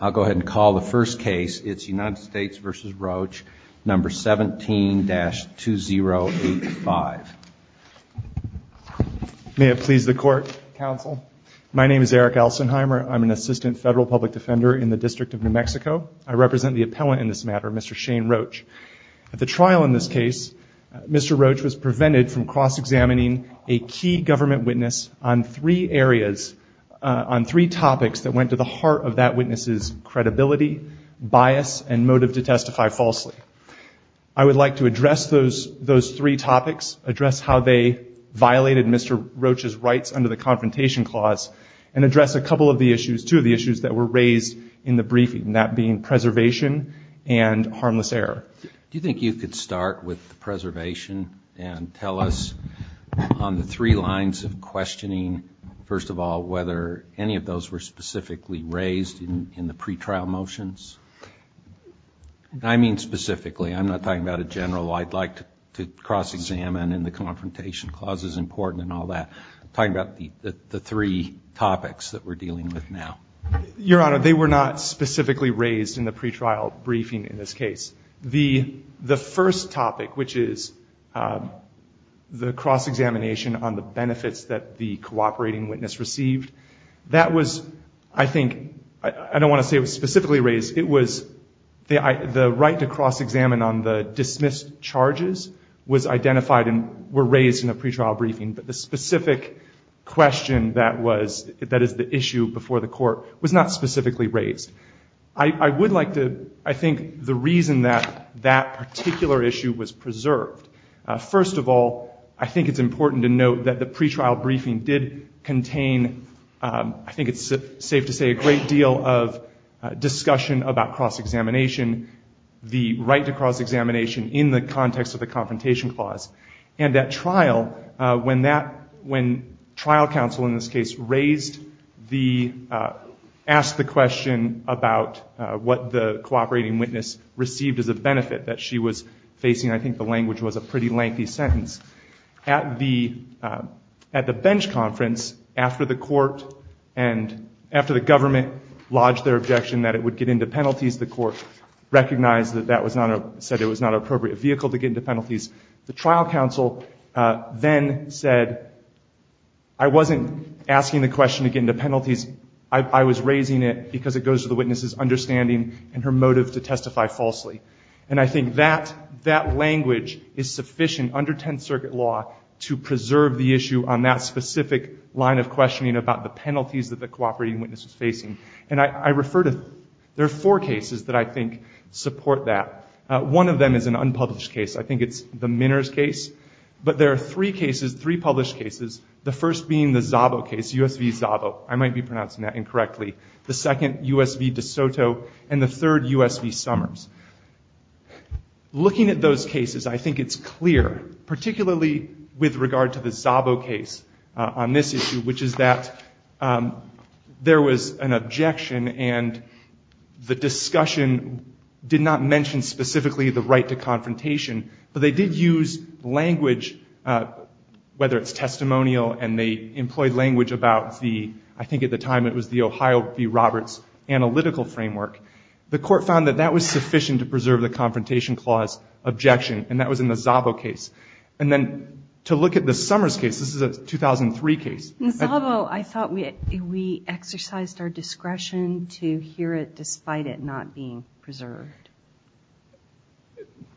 I'll go ahead and call the first case. It's United States v. Roach, number 17-2085. May it please the court, counsel. My name is Eric Alsenheimer. I'm an assistant federal public defender in the District of New Mexico. I represent the appellant in this matter, Mr. Shane Roach. At the trial in this case, Mr. Roach was prevented from cross-examining a key government witness on three areas, on three topics that went to the heart of that witness's credibility, bias, and motive to testify falsely. I would like to address those three topics, address how they violated Mr. Roach's rights under the Confrontation Clause, and address a couple of the issues, two of the issues that were raised in the briefing, that being preservation and harmless error. Do you think you could start with the preservation and tell us on the three lines of questioning, first of all, whether any of those were specifically raised in the pretrial motions? I mean specifically. I'm not talking about a general, I'd like to cross-examine and the Confrontation Clause is important and all that. I'm talking about the three topics that we're dealing with now. Your Honor, they were not specifically raised in the pretrial briefing in this case. The first topic, which is the cross-examination on the benefits that the cooperating witness received, that was, I think, I don't want to say it was specifically raised, it was the right to cross-examine on the dismissed charges was identified and were raised in the pretrial briefing, but the specific question that is the issue before the court was not specifically raised. I would like to, I think the reason that that particular issue was preserved, first of all, I think it's important to note that the pretrial briefing did contain, I think it's safe to say, a great deal of discussion about cross-examination, the right to cross-examination in the context of the Confrontation Clause. And that trial, when trial counsel in this case raised the, asked the question about what the cooperating witness received as a benefit that she was facing, I think the language was a pretty lengthy sentence. At the bench conference, after the court and after the government lodged their objection that it would get into penalties, the court recognized that that was not, said it was not an appropriate vehicle to get into penalties. The trial counsel then said, I wasn't asking the question to get into penalties, I was raising it because it goes to the witness's understanding and her motive to testify falsely. And I think that language is sufficient under Tenth Circuit law to preserve the issue on that specific line of questioning about the penalties that the cooperating witness was facing. And I refer to, there are four cases that I think support that. One of them is an unpublished case. I think it's the Minners case. But there are three cases, three published cases, the first being the Zabo case, U.S. v. Zabo. I might be pronouncing that incorrectly. The second, U.S. v. DeSoto. And the third, U.S. v. Summers. Looking at those cases, I think it's clear, particularly with regard to the Zabo case on this issue, which is that there was an objection and the discussion did not mention specifically the right to confrontation, but they did use language, whether it's testimonial and they employed language about the, I think at the time it was the Ohio v. Roberts analytical framework. The court found that that was sufficient to preserve the confrontation clause objection, and that was in the Zabo case. And then to look at the Summers case, this is a 2003 case. In Zabo, I thought we exercised our discretion to hear it despite it not being preserved.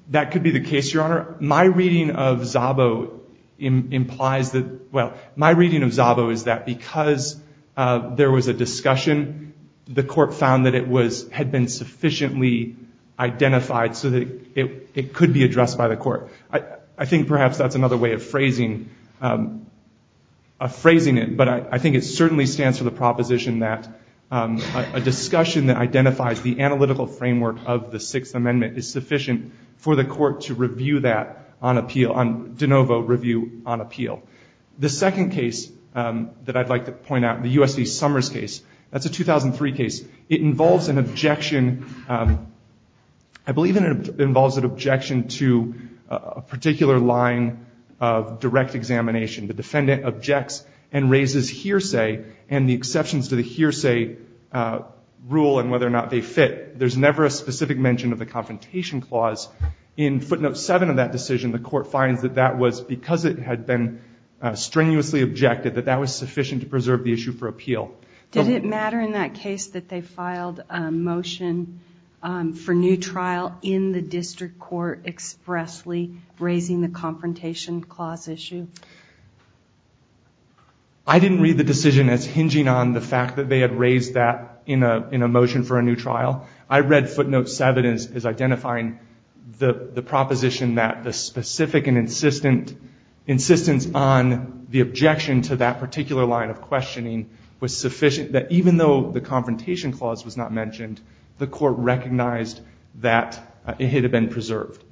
That could be the case, Your Honor. My reading of Zabo implies that, well, my reading of Zabo is that because there was a discussion, the court found that it had been sufficiently identified so that it could be addressed by the court. I think perhaps that's another way of phrasing it, but I think it certainly stands for the proposition that a discussion that identifies the analytical framework of the Sixth Amendment is sufficient for the court to review that on appeal, on de novo review on appeal. The second case that I'd like to point out, the U.S. v. Summers case, that's a 2003 case. It involves an objection. I believe it involves an objection to a particular line of direct examination. The defendant objects and raises hearsay and the exceptions to the hearsay rule and whether or not they fit. There's never a specific mention of the confrontation clause. In footnote 7 of that decision, the court finds that that was because it had been strenuously objected, that that was sufficient to preserve the issue for appeal. Did it matter in that case that they filed a motion for new trial in the district court expressly, raising the confrontation clause issue? I didn't read the decision as hinging on the fact that they had raised that in a motion for a new trial. I read footnote 7 as identifying the proposition that the specific and insistent, insistence on the objection to that particular line of questioning was sufficient, that even though the confrontation clause was not mentioned, the court recognized that it had been preserved.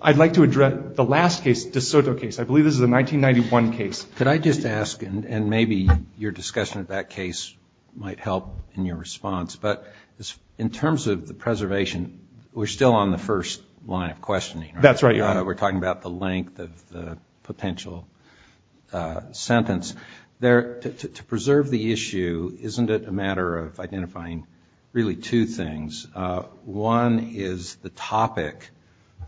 I'd like to address the last case, De Soto case. I believe this is a 1991 case. Could I just ask, and maybe your discussion of that case might help in your response, but in terms of the preservation, we're still on the first line of questioning. That's right. We're talking about the length of the potential sentence. To preserve the issue, isn't it a matter of identifying really two things? One is the topic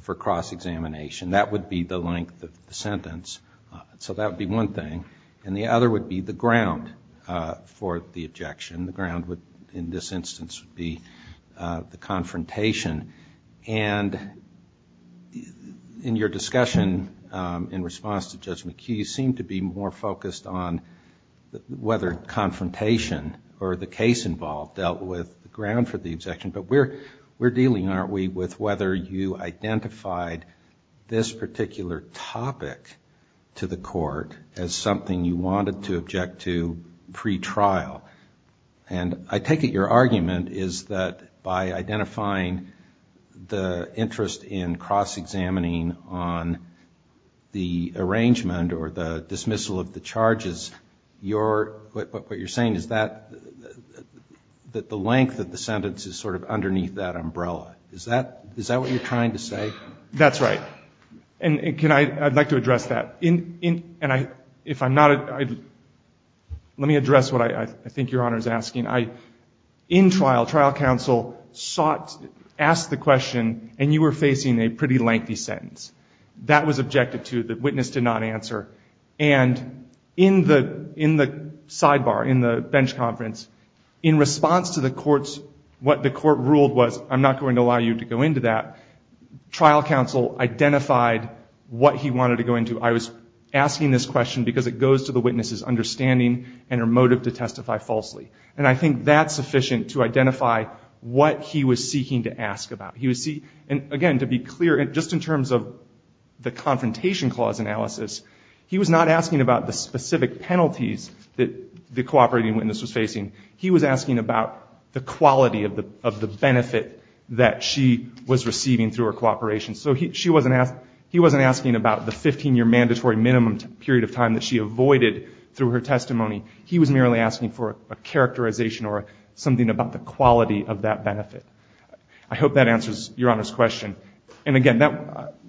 for cross-examination. That would be the length of the sentence. So that would be one thing. And the other would be the ground for the objection. The ground in this instance would be the confrontation. And in your discussion in response to Judge McKee, you seem to be more focused on whether confrontation or the case involved dealt with the ground for the objection, but we're dealing, aren't we, with whether you identified this particular topic to the court as something you wanted to object to pretrial. And I take it your argument is that by identifying the interest in cross-examining on the arrangement or the dismissal of the charges, what you're saying is that the length of the sentence is sort of underneath that umbrella. Is that what you're trying to say? That's right. And I'd like to address that. Let me address what I think Your Honor is asking. In trial, trial counsel sought, asked the question, and you were facing a pretty lengthy sentence. That was objected to. The witness did not answer. And in the sidebar, in the bench conference, in response to the court's, what the court ruled was, I'm not going to allow you to go into that, trial counsel identified what he wanted to go into. I was asking this question because it goes to the witness's understanding and her motive to testify falsely. And I think that's sufficient to identify what he was seeking to ask about. Again, to be clear, just in terms of the confrontation clause analysis, he was not asking about the specific penalties that the cooperating witness was facing. He was asking about the quality of the benefit that she was receiving through her cooperation. So he wasn't asking about the 15-year mandatory minimum period of time that she avoided through her testimony. He was merely asking for a characterization or something about the quality of that benefit. I hope that answers Your Honor's question. And again,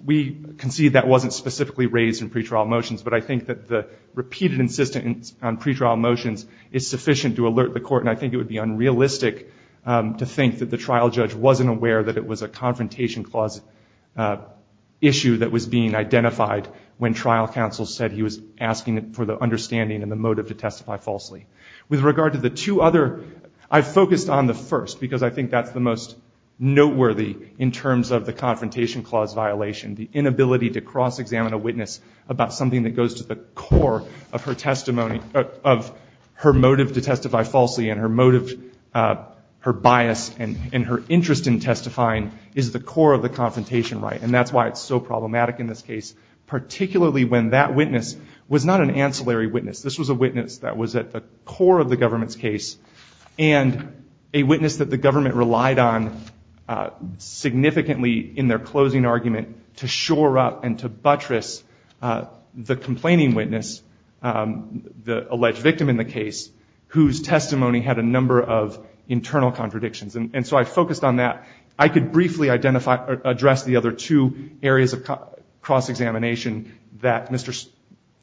we concede that wasn't specifically raised in pretrial motions, but I think that the repeated insistence on pretrial motions is sufficient to alert the court, and I think it would be unrealistic to think that the trial judge wasn't aware that it was a confrontation clause issue that was being identified when trial counsel said he was asking for the understanding and the motive to testify falsely. With regard to the two other, I focused on the first, because I think that's the most noteworthy in terms of the confrontation clause violation, the inability to cross-examine a witness about something that goes to the core of her testimony, of her motive to testify falsely, and her motive, her bias, and her interest in testifying is the core of the confrontation right. And that's why it's so problematic in this case, particularly when that witness was not an ancillary witness. This was a witness that was at the core of the government's case, and a witness that the government relied on significantly in their closing argument to shore up and to buttress the complaining witness, the alleged victim in the case, whose testimony had a number of internal contradictions. And so I focused on that. I could briefly identify or address the other two areas of cross-examination that Mr.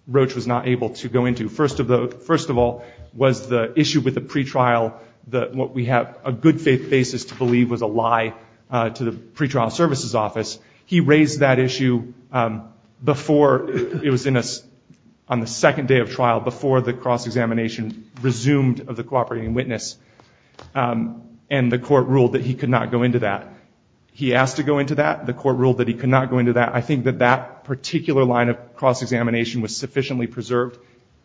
Roach was not able to go into. First of all was the issue with the pretrial, what we have a good faith basis to believe was a lie to the pretrial services office. He raised that issue before it was on the second day of trial, before the cross-examination resumed of the cooperating witness, and the court ruled that he could not go into that. He asked to go into that. The court ruled that he could not go into that. I think that that particular line of cross-examination was sufficiently preserved.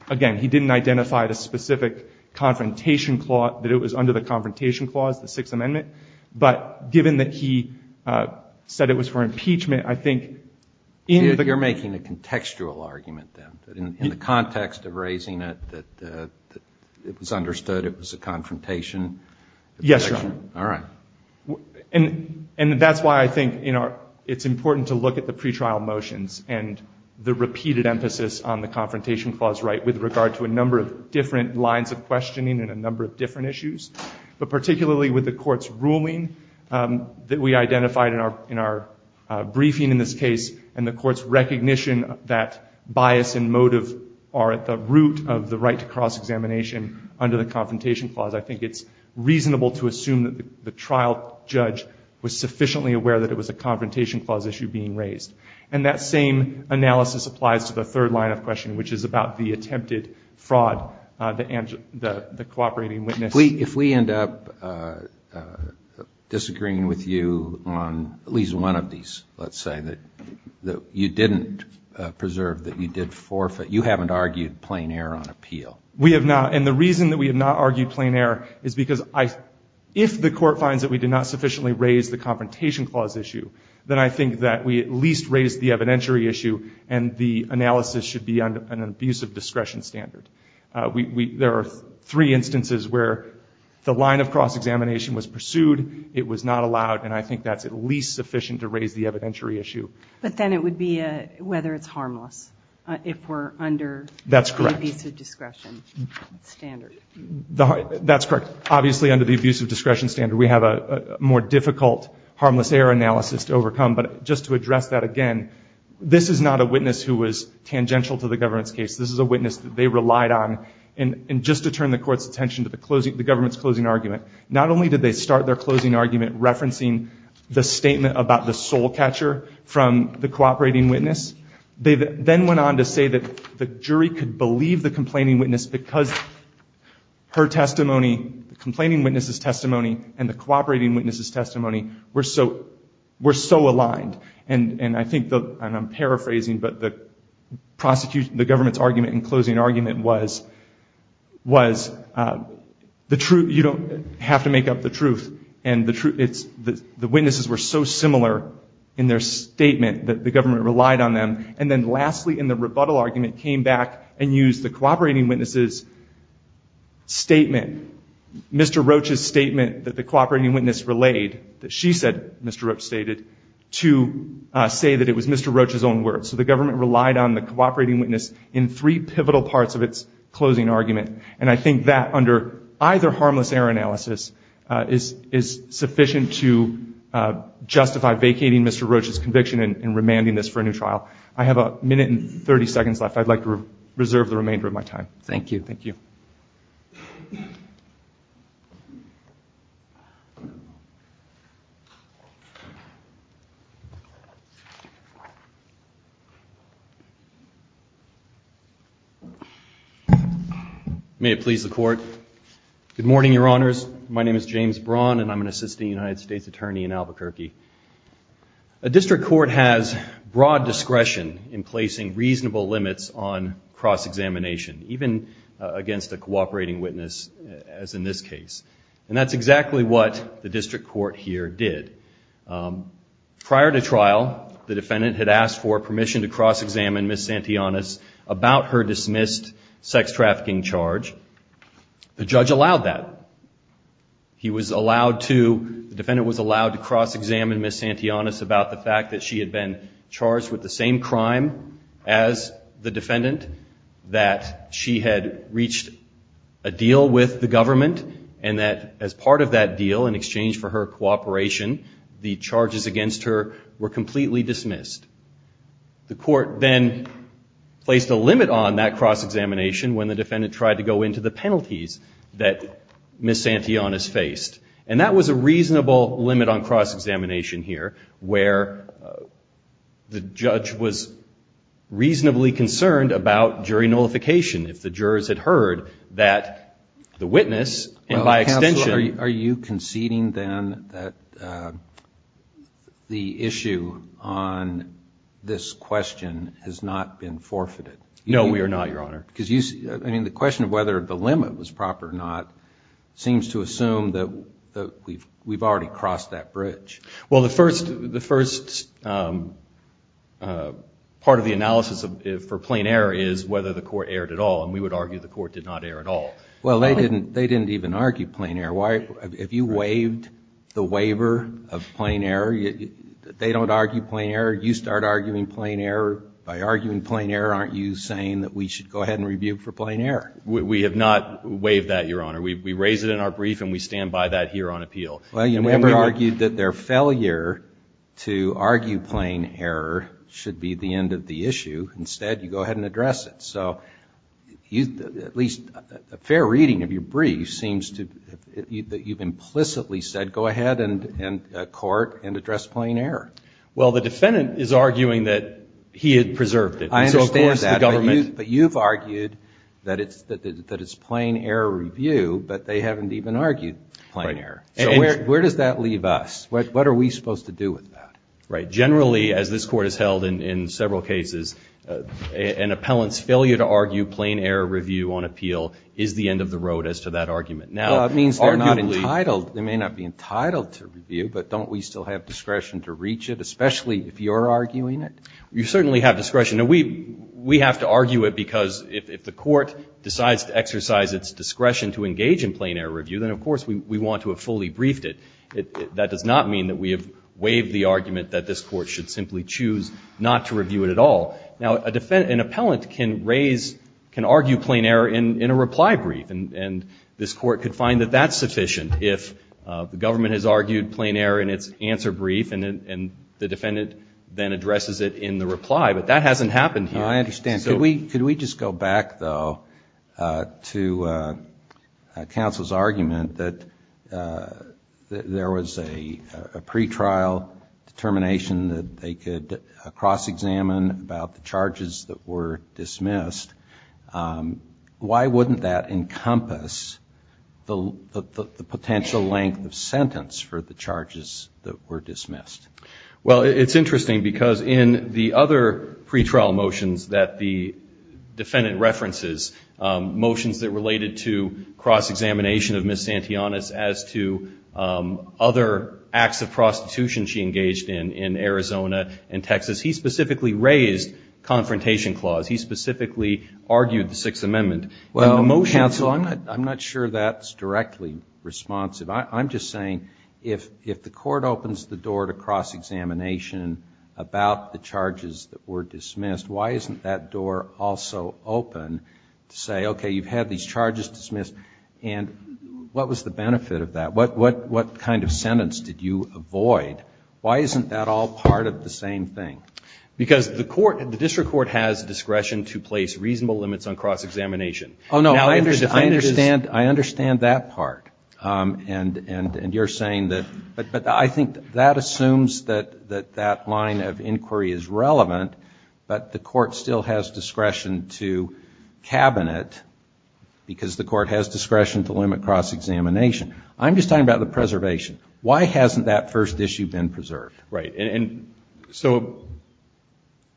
Again, he didn't identify the specific confrontation clause, that it was under the confrontation clause, the Sixth Amendment. But given that he said it was for impeachment, I think in the You're making a contextual argument then, in the context of raising it, that it was understood it was a confrontation. Yes, Your Honor. All right. And that's why I think it's important to look at the pretrial motions and the repeated emphasis on the confrontation clause right with regard to a number of different lines of questioning and a number of different issues, but particularly with the court's ruling that we identified in our briefing in this case and the court's recognition that bias and motive are at the root of the right to cross-examination under the confrontation clause. I think it's reasonable to assume that the trial judge was sufficiently aware that it was a confrontation clause issue being raised. And that same analysis applies to the third line of questioning, which is about the attempted fraud, the cooperating witness. If we end up disagreeing with you on at least one of these, let's say, that you didn't preserve that you did forfeit, you haven't argued plain error on appeal. We have not. And the reason that we have not argued plain error is because if the court finds that we did not sufficiently raise the confrontation clause issue, then I think that we at least raised the evidentiary issue and the analysis should be on an abuse of discretion standard. There are three instances where the line of cross-examination was pursued, it was not allowed, and I think that's at least sufficient to raise the evidentiary issue. But then it would be whether it's harmless if we're under the abuse of discretion. That's correct. Obviously, under the abuse of discretion standard, we have a more difficult harmless error analysis to overcome. But just to address that again, this is not a witness who was tangential to the government's case. This is a witness that they relied on. And just to turn the court's attention to the government's closing argument, not only did they start their closing argument referencing the statement about the soul catcher from the cooperating witness, they then went on to say that the jury could believe the complaining witness because her testimony, the complaining witness's testimony, and the cooperating witness's testimony were so aligned. And I think, and I'm paraphrasing, but the government's argument and closing argument was you don't have to make up the truth, and the witnesses were so similar in their statement that the government relied on them, and then lastly, in the rebuttal argument, came back and used the cooperating witness's statement, Mr. Roach's statement that the cooperating witness relayed, that she said Mr. Roach stated, to say that it was Mr. Roach's own words. So the government relied on the cooperating witness in three pivotal parts of its closing argument. And I think that under either harmless error analysis is sufficient to justify vacating Mr. Roach for a new trial. I have a minute and 30 seconds left. I'd like to reserve the remainder of my time. Thank you. Thank you. May it please the Court. Good morning, Your Honors. My name is James Braun, and I'm an assistant United States attorney in Albuquerque. A district court has broad discretion in placing reasonable limits on cross-examination, even against a cooperating witness, as in this case. And that's exactly what the district court here did. Prior to trial, the defendant had asked for permission to cross-examine Ms. Santillanes about her dismissed sex trafficking charge. The judge allowed that. He was allowed to, the defendant was allowed to cross-examine Ms. Santillanes about the fact that she had been charged with the same crime as the defendant, that she had reached a deal with the government, and that as part of that deal in exchange for her cooperation, the charges against her were completely dismissed. The court then placed a limit on that cross-examination when the defendant tried to go into the penalties that Ms. Santillanes faced. And that was a reasonable limit on cross-examination here, where the judge was reasonably concerned about jury nullification. If the jurors had heard that the witness, and by extension – Are you conceding then that the issue on this question has not been forfeited? No, we are not, Your Honor. I mean, the question of whether the limit was proper or not seems to assume that we've already crossed that bridge. Well, the first part of the analysis for plain error is whether the court erred at all, and we would argue the court did not err at all. Well, they didn't even argue plain error. If you waived the waiver of plain error, they don't argue plain error. You start arguing plain error. By arguing plain error, aren't you saying that we should go ahead and review it for plain error? We have not waived that, Your Honor. We raise it in our brief, and we stand by that here on appeal. Well, you never argued that their failure to argue plain error should be the end of the issue. Instead, you go ahead and address it. So at least a fair reading of your brief seems to – that you've implicitly said go ahead and court and address plain error. Well, the defendant is arguing that he had preserved it. I understand that, but you've argued that it's plain error review, but they haven't even argued plain error. So where does that leave us? What are we supposed to do with that? Right. Generally, as this Court has held in several cases, an appellant's failure to argue plain error review on appeal is the end of the road as to that argument. Well, that means they're not entitled. They may not be entitled to review, but don't we still have discretion to reach it, especially if you're arguing it? You certainly have discretion. Now, we have to argue it because if the court decides to exercise its discretion to engage in plain error review, then, of course, we want to have fully briefed it. That does not mean that we have waived the argument that this Court should simply choose not to review it at all. Now, an appellant can raise – can argue plain error in a reply brief, and this Court could find that that's sufficient if the government has argued plain error in its answer brief and the defendant then addresses it in the reply, but that hasn't happened here. I understand. Could we just go back, though, to counsel's argument that there was a pretrial determination that they could cross-examine about the charges that were dismissed? Why wouldn't that encompass the potential length of sentence for the charges that were dismissed? Well, it's interesting because in the other pretrial motions that the defendant references, motions that related to cross-examination of Ms. Santianas as to other acts of prostitution she engaged in, in Arizona and Texas, he specifically raised confrontation clause. He specifically argued the Sixth Amendment. Well, counsel, I'm not sure that's directly responsive. I'm just saying if the Court opens the door to cross-examination about the charges that were dismissed, why isn't that door also open to say, okay, you've had these charges dismissed, and what was the benefit of that? What kind of sentence did you avoid? Why isn't that all part of the same thing? Because the District Court has discretion to place reasonable limits on cross-examination. Oh, no. I understand that part, and you're saying that. But I think that assumes that that line of inquiry is relevant, but the Court still has discretion to cabinet because the Court has discretion to limit cross-examination. I'm just talking about the preservation. Why hasn't that first issue been preserved? Right. And so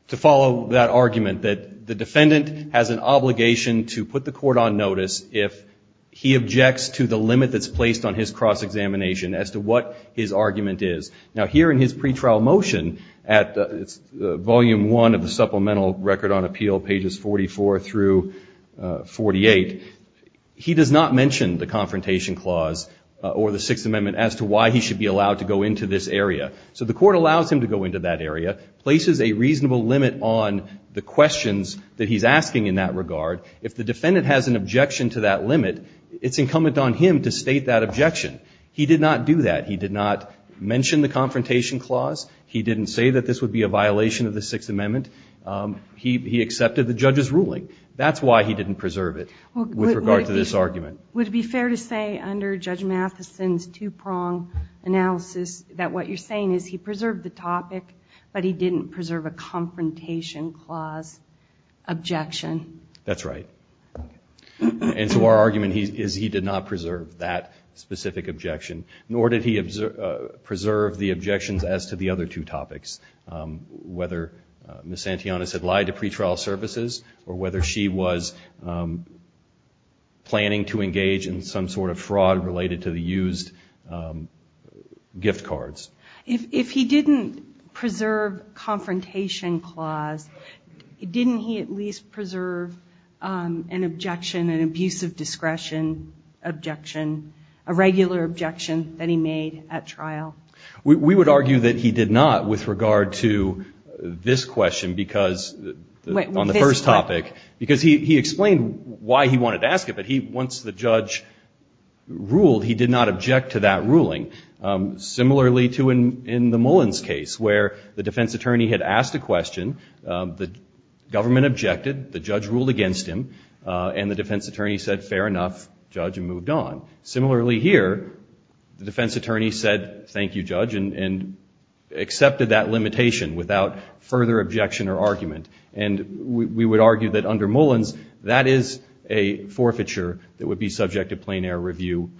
to follow that argument that the defendant has an obligation to put the Court on notice if he objects to the limit that's placed on his cross-examination as to what his argument is. Now, here in his pretrial motion at Volume 1 of the Supplemental Record on Appeal, pages 44 through 48, he does not mention the confrontation clause or the Sixth Amendment as to why he should be allowed to go into this area. So the Court allows him to go into that area, places a reasonable limit on the questions that he's asking in that regard. If the defendant has an objection to that limit, it's incumbent on him to state that objection. He did not do that. He did not mention the confrontation clause. He didn't say that this would be a violation of the Sixth Amendment. He accepted the judge's ruling. That's why he didn't preserve it with regard to this argument. Would it be fair to say under Judge Mathison's two-prong analysis that what you're saying is he preserved the topic, but he didn't preserve a confrontation clause objection? That's right. And so our argument is he did not preserve that specific objection, nor did he preserve the objections as to the other two topics, whether Miss Antionis had lied to pretrial services or whether she was planning to engage in some sort of fraud related to the used gift cards. If he didn't preserve confrontation clause, didn't he at least preserve an objection, an abusive discretion objection, a regular objection that he made at trial? We would argue that he did not with regard to this question because on the first topic, because he explained why he wanted to ask it, but once the judge ruled, he did not object to that ruling. Similarly to in the Mullins case where the defense attorney had asked a question, the government objected, the judge ruled against him, and the defense attorney said fair enough, judge, and moved on. Similarly here, the defense attorney said thank you, judge, and accepted that limitation without further objection or argument. And we would argue that under Mullins, that is a forfeiture that would be subject to plain air review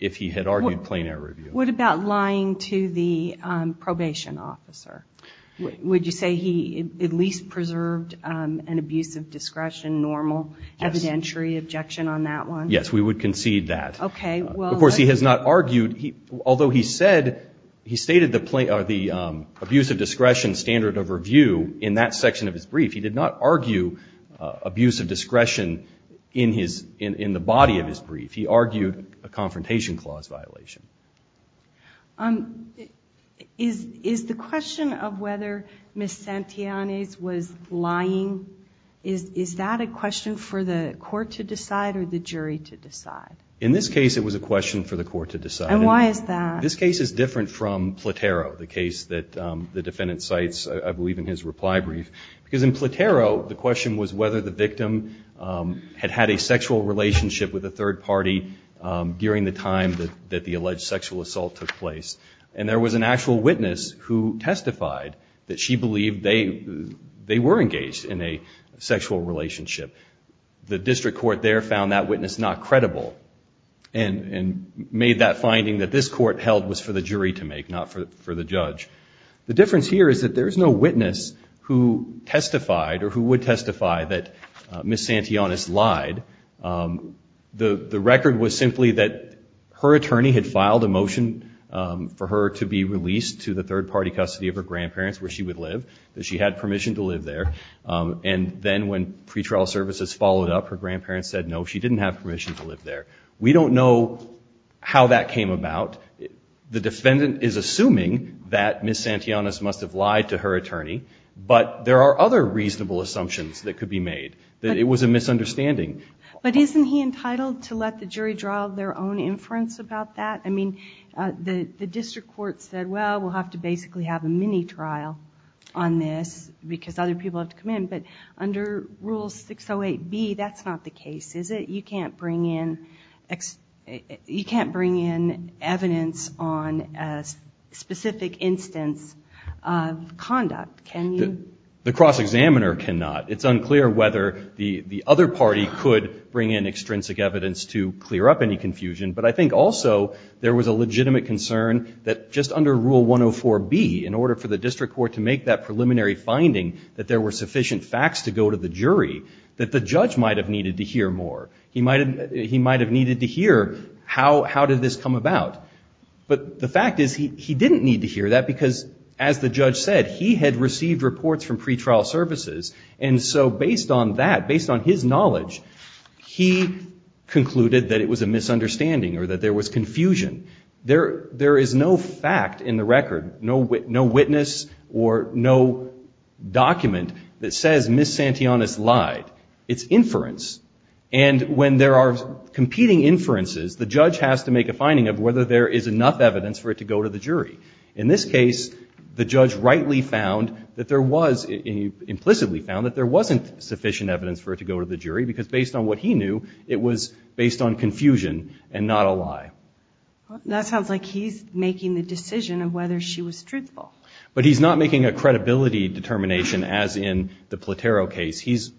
if he had argued plain air review. What about lying to the probation officer? Would you say he at least preserved an abusive discretion, normal evidentiary objection on that one? Yes, we would concede that. Although he stated the abusive discretion standard of review in that section of his brief, he did not argue abusive discretion in the body of his brief. He argued a confrontation clause violation. Is the question of whether Ms. Santillanes was lying, is that a question for the court to decide or the jury to decide? In this case, it was a question for the court to decide. And why is that? This case is different from Platero, the case that the defendant cites, I believe, in his reply brief. Because in Platero, the question was whether the victim had had a sexual relationship with a third party during the time that the alleged sexual assault took place. And there was an actual witness who testified that she believed they were engaged in a sexual relationship. The district court there found that witness not credible and made that finding that this court held was for the jury to make, not for the judge. The difference here is that there is no witness who testified or who would testify that Ms. Santillanes lied. The record was simply that her attorney had filed a motion for her to be released to the third party custody of her grandparents where she would live, that she had permission to live there. And then when pretrial services followed up, her grandparents said, no, she didn't have permission to live there. We don't know how that came about. The defendant is assuming that Ms. Santillanes must have lied to her attorney. But there are other reasonable assumptions that could be made, that it was a misunderstanding. But isn't he entitled to let the jury draw their own inference about that? I mean, the district court said, well, we'll have to basically have a mini-trial on this because other people have to come in. But under Rule 608B, that's not the case, is it? You can't bring in evidence on a specific instance of conduct, can you? The cross-examiner cannot. It's unclear whether the other party could bring in extrinsic evidence to clear up any confusion. But I think also there was a legitimate concern that just under Rule 104B, in order for the district court to make that preliminary finding that there were sufficient facts to go to the jury, that the judge might have needed to hear more. He might have needed to hear how did this come about. But the fact is he didn't need to hear that because, as the judge said, he had received reports from pretrial services. And so based on that, based on his knowledge, he concluded that it was a misunderstanding or that there was confusion. There is no fact in the record, no witness or no document that says Ms. Santillanes lied. It's inference. There is enough evidence for it to go to the jury. In this case, the judge rightly found that there was, implicitly found, that there wasn't sufficient evidence for it to go to the jury because based on what he knew, it was based on confusion and not a lie. That sounds like he's making the decision of whether she was truthful. But he's not making a credibility determination as in the Platero case. He's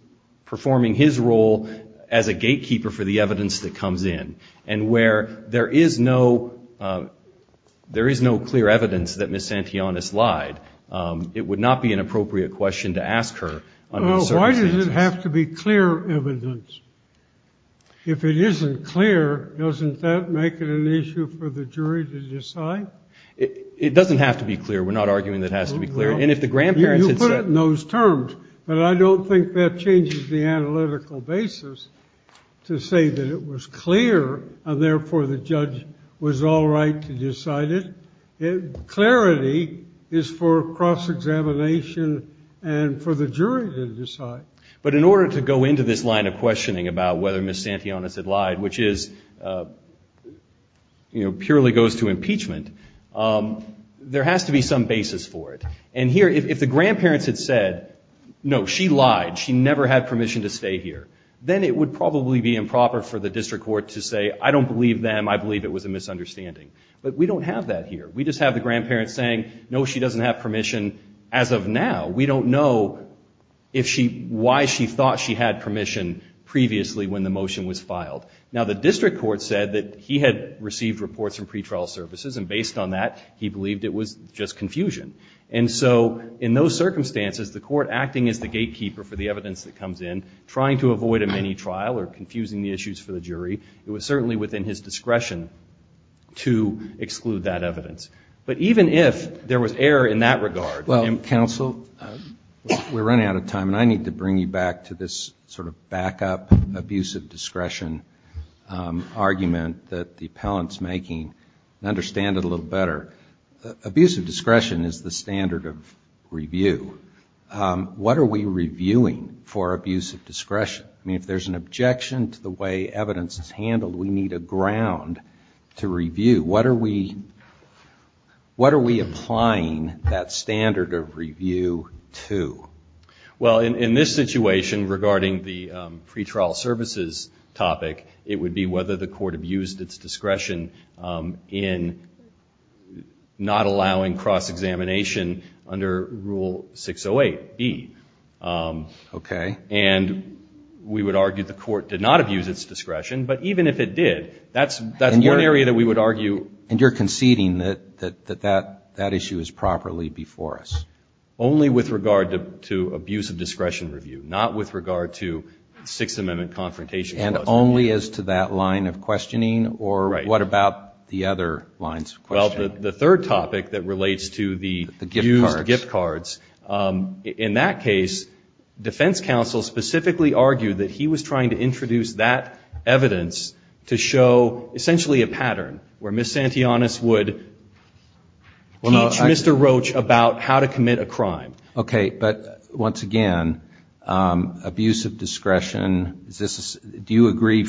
performing his role as a gatekeeper for the evidence that comes in. And where there is no clear evidence that Ms. Santillanes lied, it would not be an appropriate question to ask her. Why does it have to be clear evidence? If it isn't clear, doesn't that make it an issue for the jury to decide? It doesn't have to be clear. We're not arguing that it has to be clear. You put it in those terms, but I don't think that changes the analytical basis to say that it was clear and therefore the judge was all right to decide it. Clarity is for cross-examination and for the jury to decide. But in order to go into this line of questioning about whether Ms. Santillanes had lied, which purely goes to impeachment, there has to be some basis for it. And here, if the grandparents had said, no, she lied, she never had permission to stay here, then it would probably be improper for the district court to say, I don't believe them, I believe it was a misunderstanding. But we don't have that here. We just have the grandparents saying, no, she doesn't have permission as of now. We don't know why she thought she had permission previously when the motion was filed. Now, the district court said that he had received reports from pretrial services, and based on that, he believed it was just confusion. And so in those circumstances, the court acting as the gatekeeper for the evidence that comes in, trying to avoid a mini-trial or confusing the issues for the jury, it was certainly within his discretion to exclude that evidence. But even if there was error in that regard... Well, counsel, we're running out of time, and I need to bring you back to this sort of backup abusive discretion argument that the appellant's making and understand it a little better. Abusive discretion is the standard of review. What are we reviewing for abusive discretion? I mean, if there's an objection to the way evidence is handled, we need a ground to review. What are we applying that standard of review to? Well, in this situation, regarding the pretrial services topic, it would be whether the court abused its discretion in not allowing cross-examination under Rule 608B. And we would argue the court did not abuse its discretion, but even if it did, that's one area that we would argue... And you're conceding that that issue is properly before us? Only with regard to abusive discretion review, not with regard to Sixth Amendment confrontation. And only as to that line of questioning, or what about the other lines of questioning? Well, the third topic that relates to the used gift cards, in that case, defense counsel specifically argued that he was trying to introduce that evidence to show essentially a pattern where Ms. Santillanus would teach Mr. Roach about how to commit a crime. Okay, but once again, abusive discretion, do you agree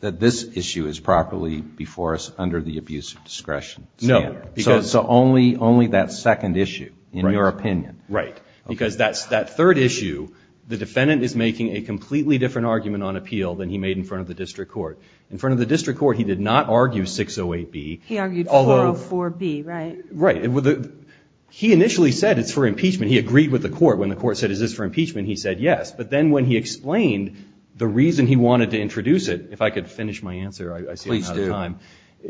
that this issue is properly before us under the abusive discretion standard? So only that second issue, in your opinion? Right, because that third issue, the defendant is making a completely different argument on appeal than he made in front of the district court. In front of the district court, he did not argue 608B. He argued 404B, right? Right, he initially said it's for impeachment. He agreed with the court. When the court said, is this for impeachment, he said yes. But then when he explained the reason he wanted to introduce it, if I could finish my answer, I see I'm out of time. Please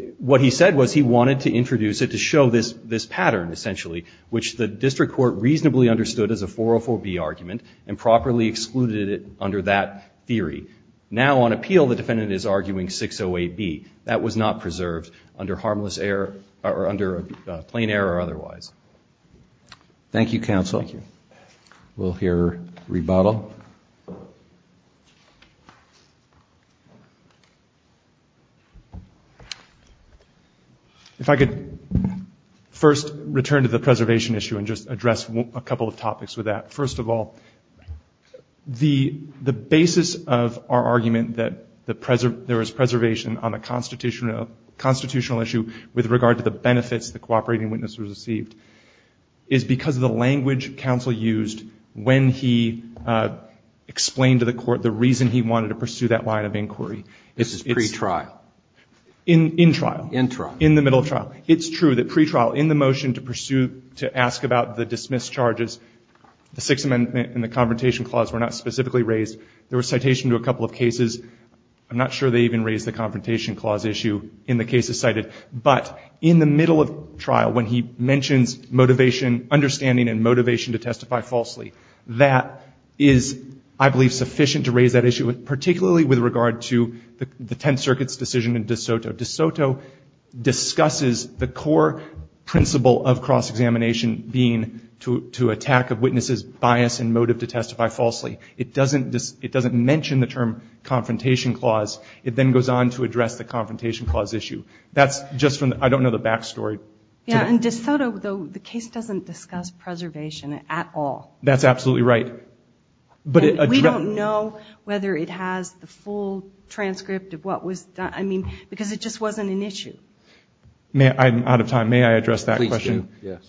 do. Thank you, counsel. We'll hear rebuttal. If I could first return to the preservation issue and just address a couple of topics with that. First of all, the basis of our argument that there was preservation on the constitutional issue with regard to the benefits, the cooperating witness was received, is because of the language counsel used when he explained to the court the reason he wanted to pursue that line of inquiry. This is pretrial. In trial, in the middle of trial. It's true that pretrial, in the motion to ask about the dismissed charges, the Sixth Amendment and the Confrontation Clause were not specifically raised. There was citation to a couple of cases. I'm not sure they even raised the Confrontation Clause issue in the cases cited. But in the middle of trial, when he mentions motivation, understanding and motivation to testify falsely, that is, I believe, sufficient to raise that issue, particularly with regard to the Tenth Circuit's decision in De Soto. De Soto discusses the core principle of cross-examination being to attack a witness's bias and motive to testify falsely. It doesn't mention the term Confrontation Clause. It then goes on to address the Confrontation Clause issue. That's just from, I don't know the back story. And De Soto, the case doesn't discuss preservation at all. That's absolutely right. We don't know whether it has the full transcript of what was done, because it just wasn't an issue. I'm out of time. May I address that question?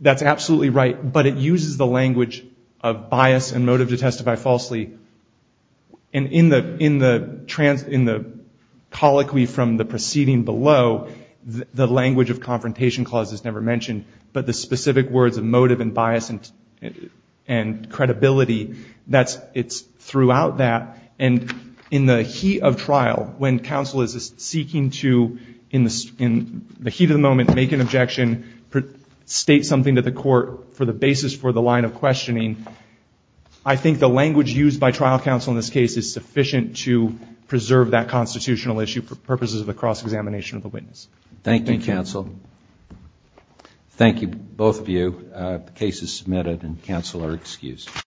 That's absolutely right, but it uses the language of bias and motive to testify falsely. And in the colloquy from the proceeding below, the language of Confrontation Clause is never mentioned, but the specific words of motive and bias and credibility, it's throughout that. And in the heat of trial, when counsel is seeking to, in the heat of the moment, make an objection, state something to the court for the basis for the line of questioning, I think the language used by trial counsel in this case is sufficient to preserve that constitutional issue for purposes of a cross-examination of the witness. Thank you, counsel.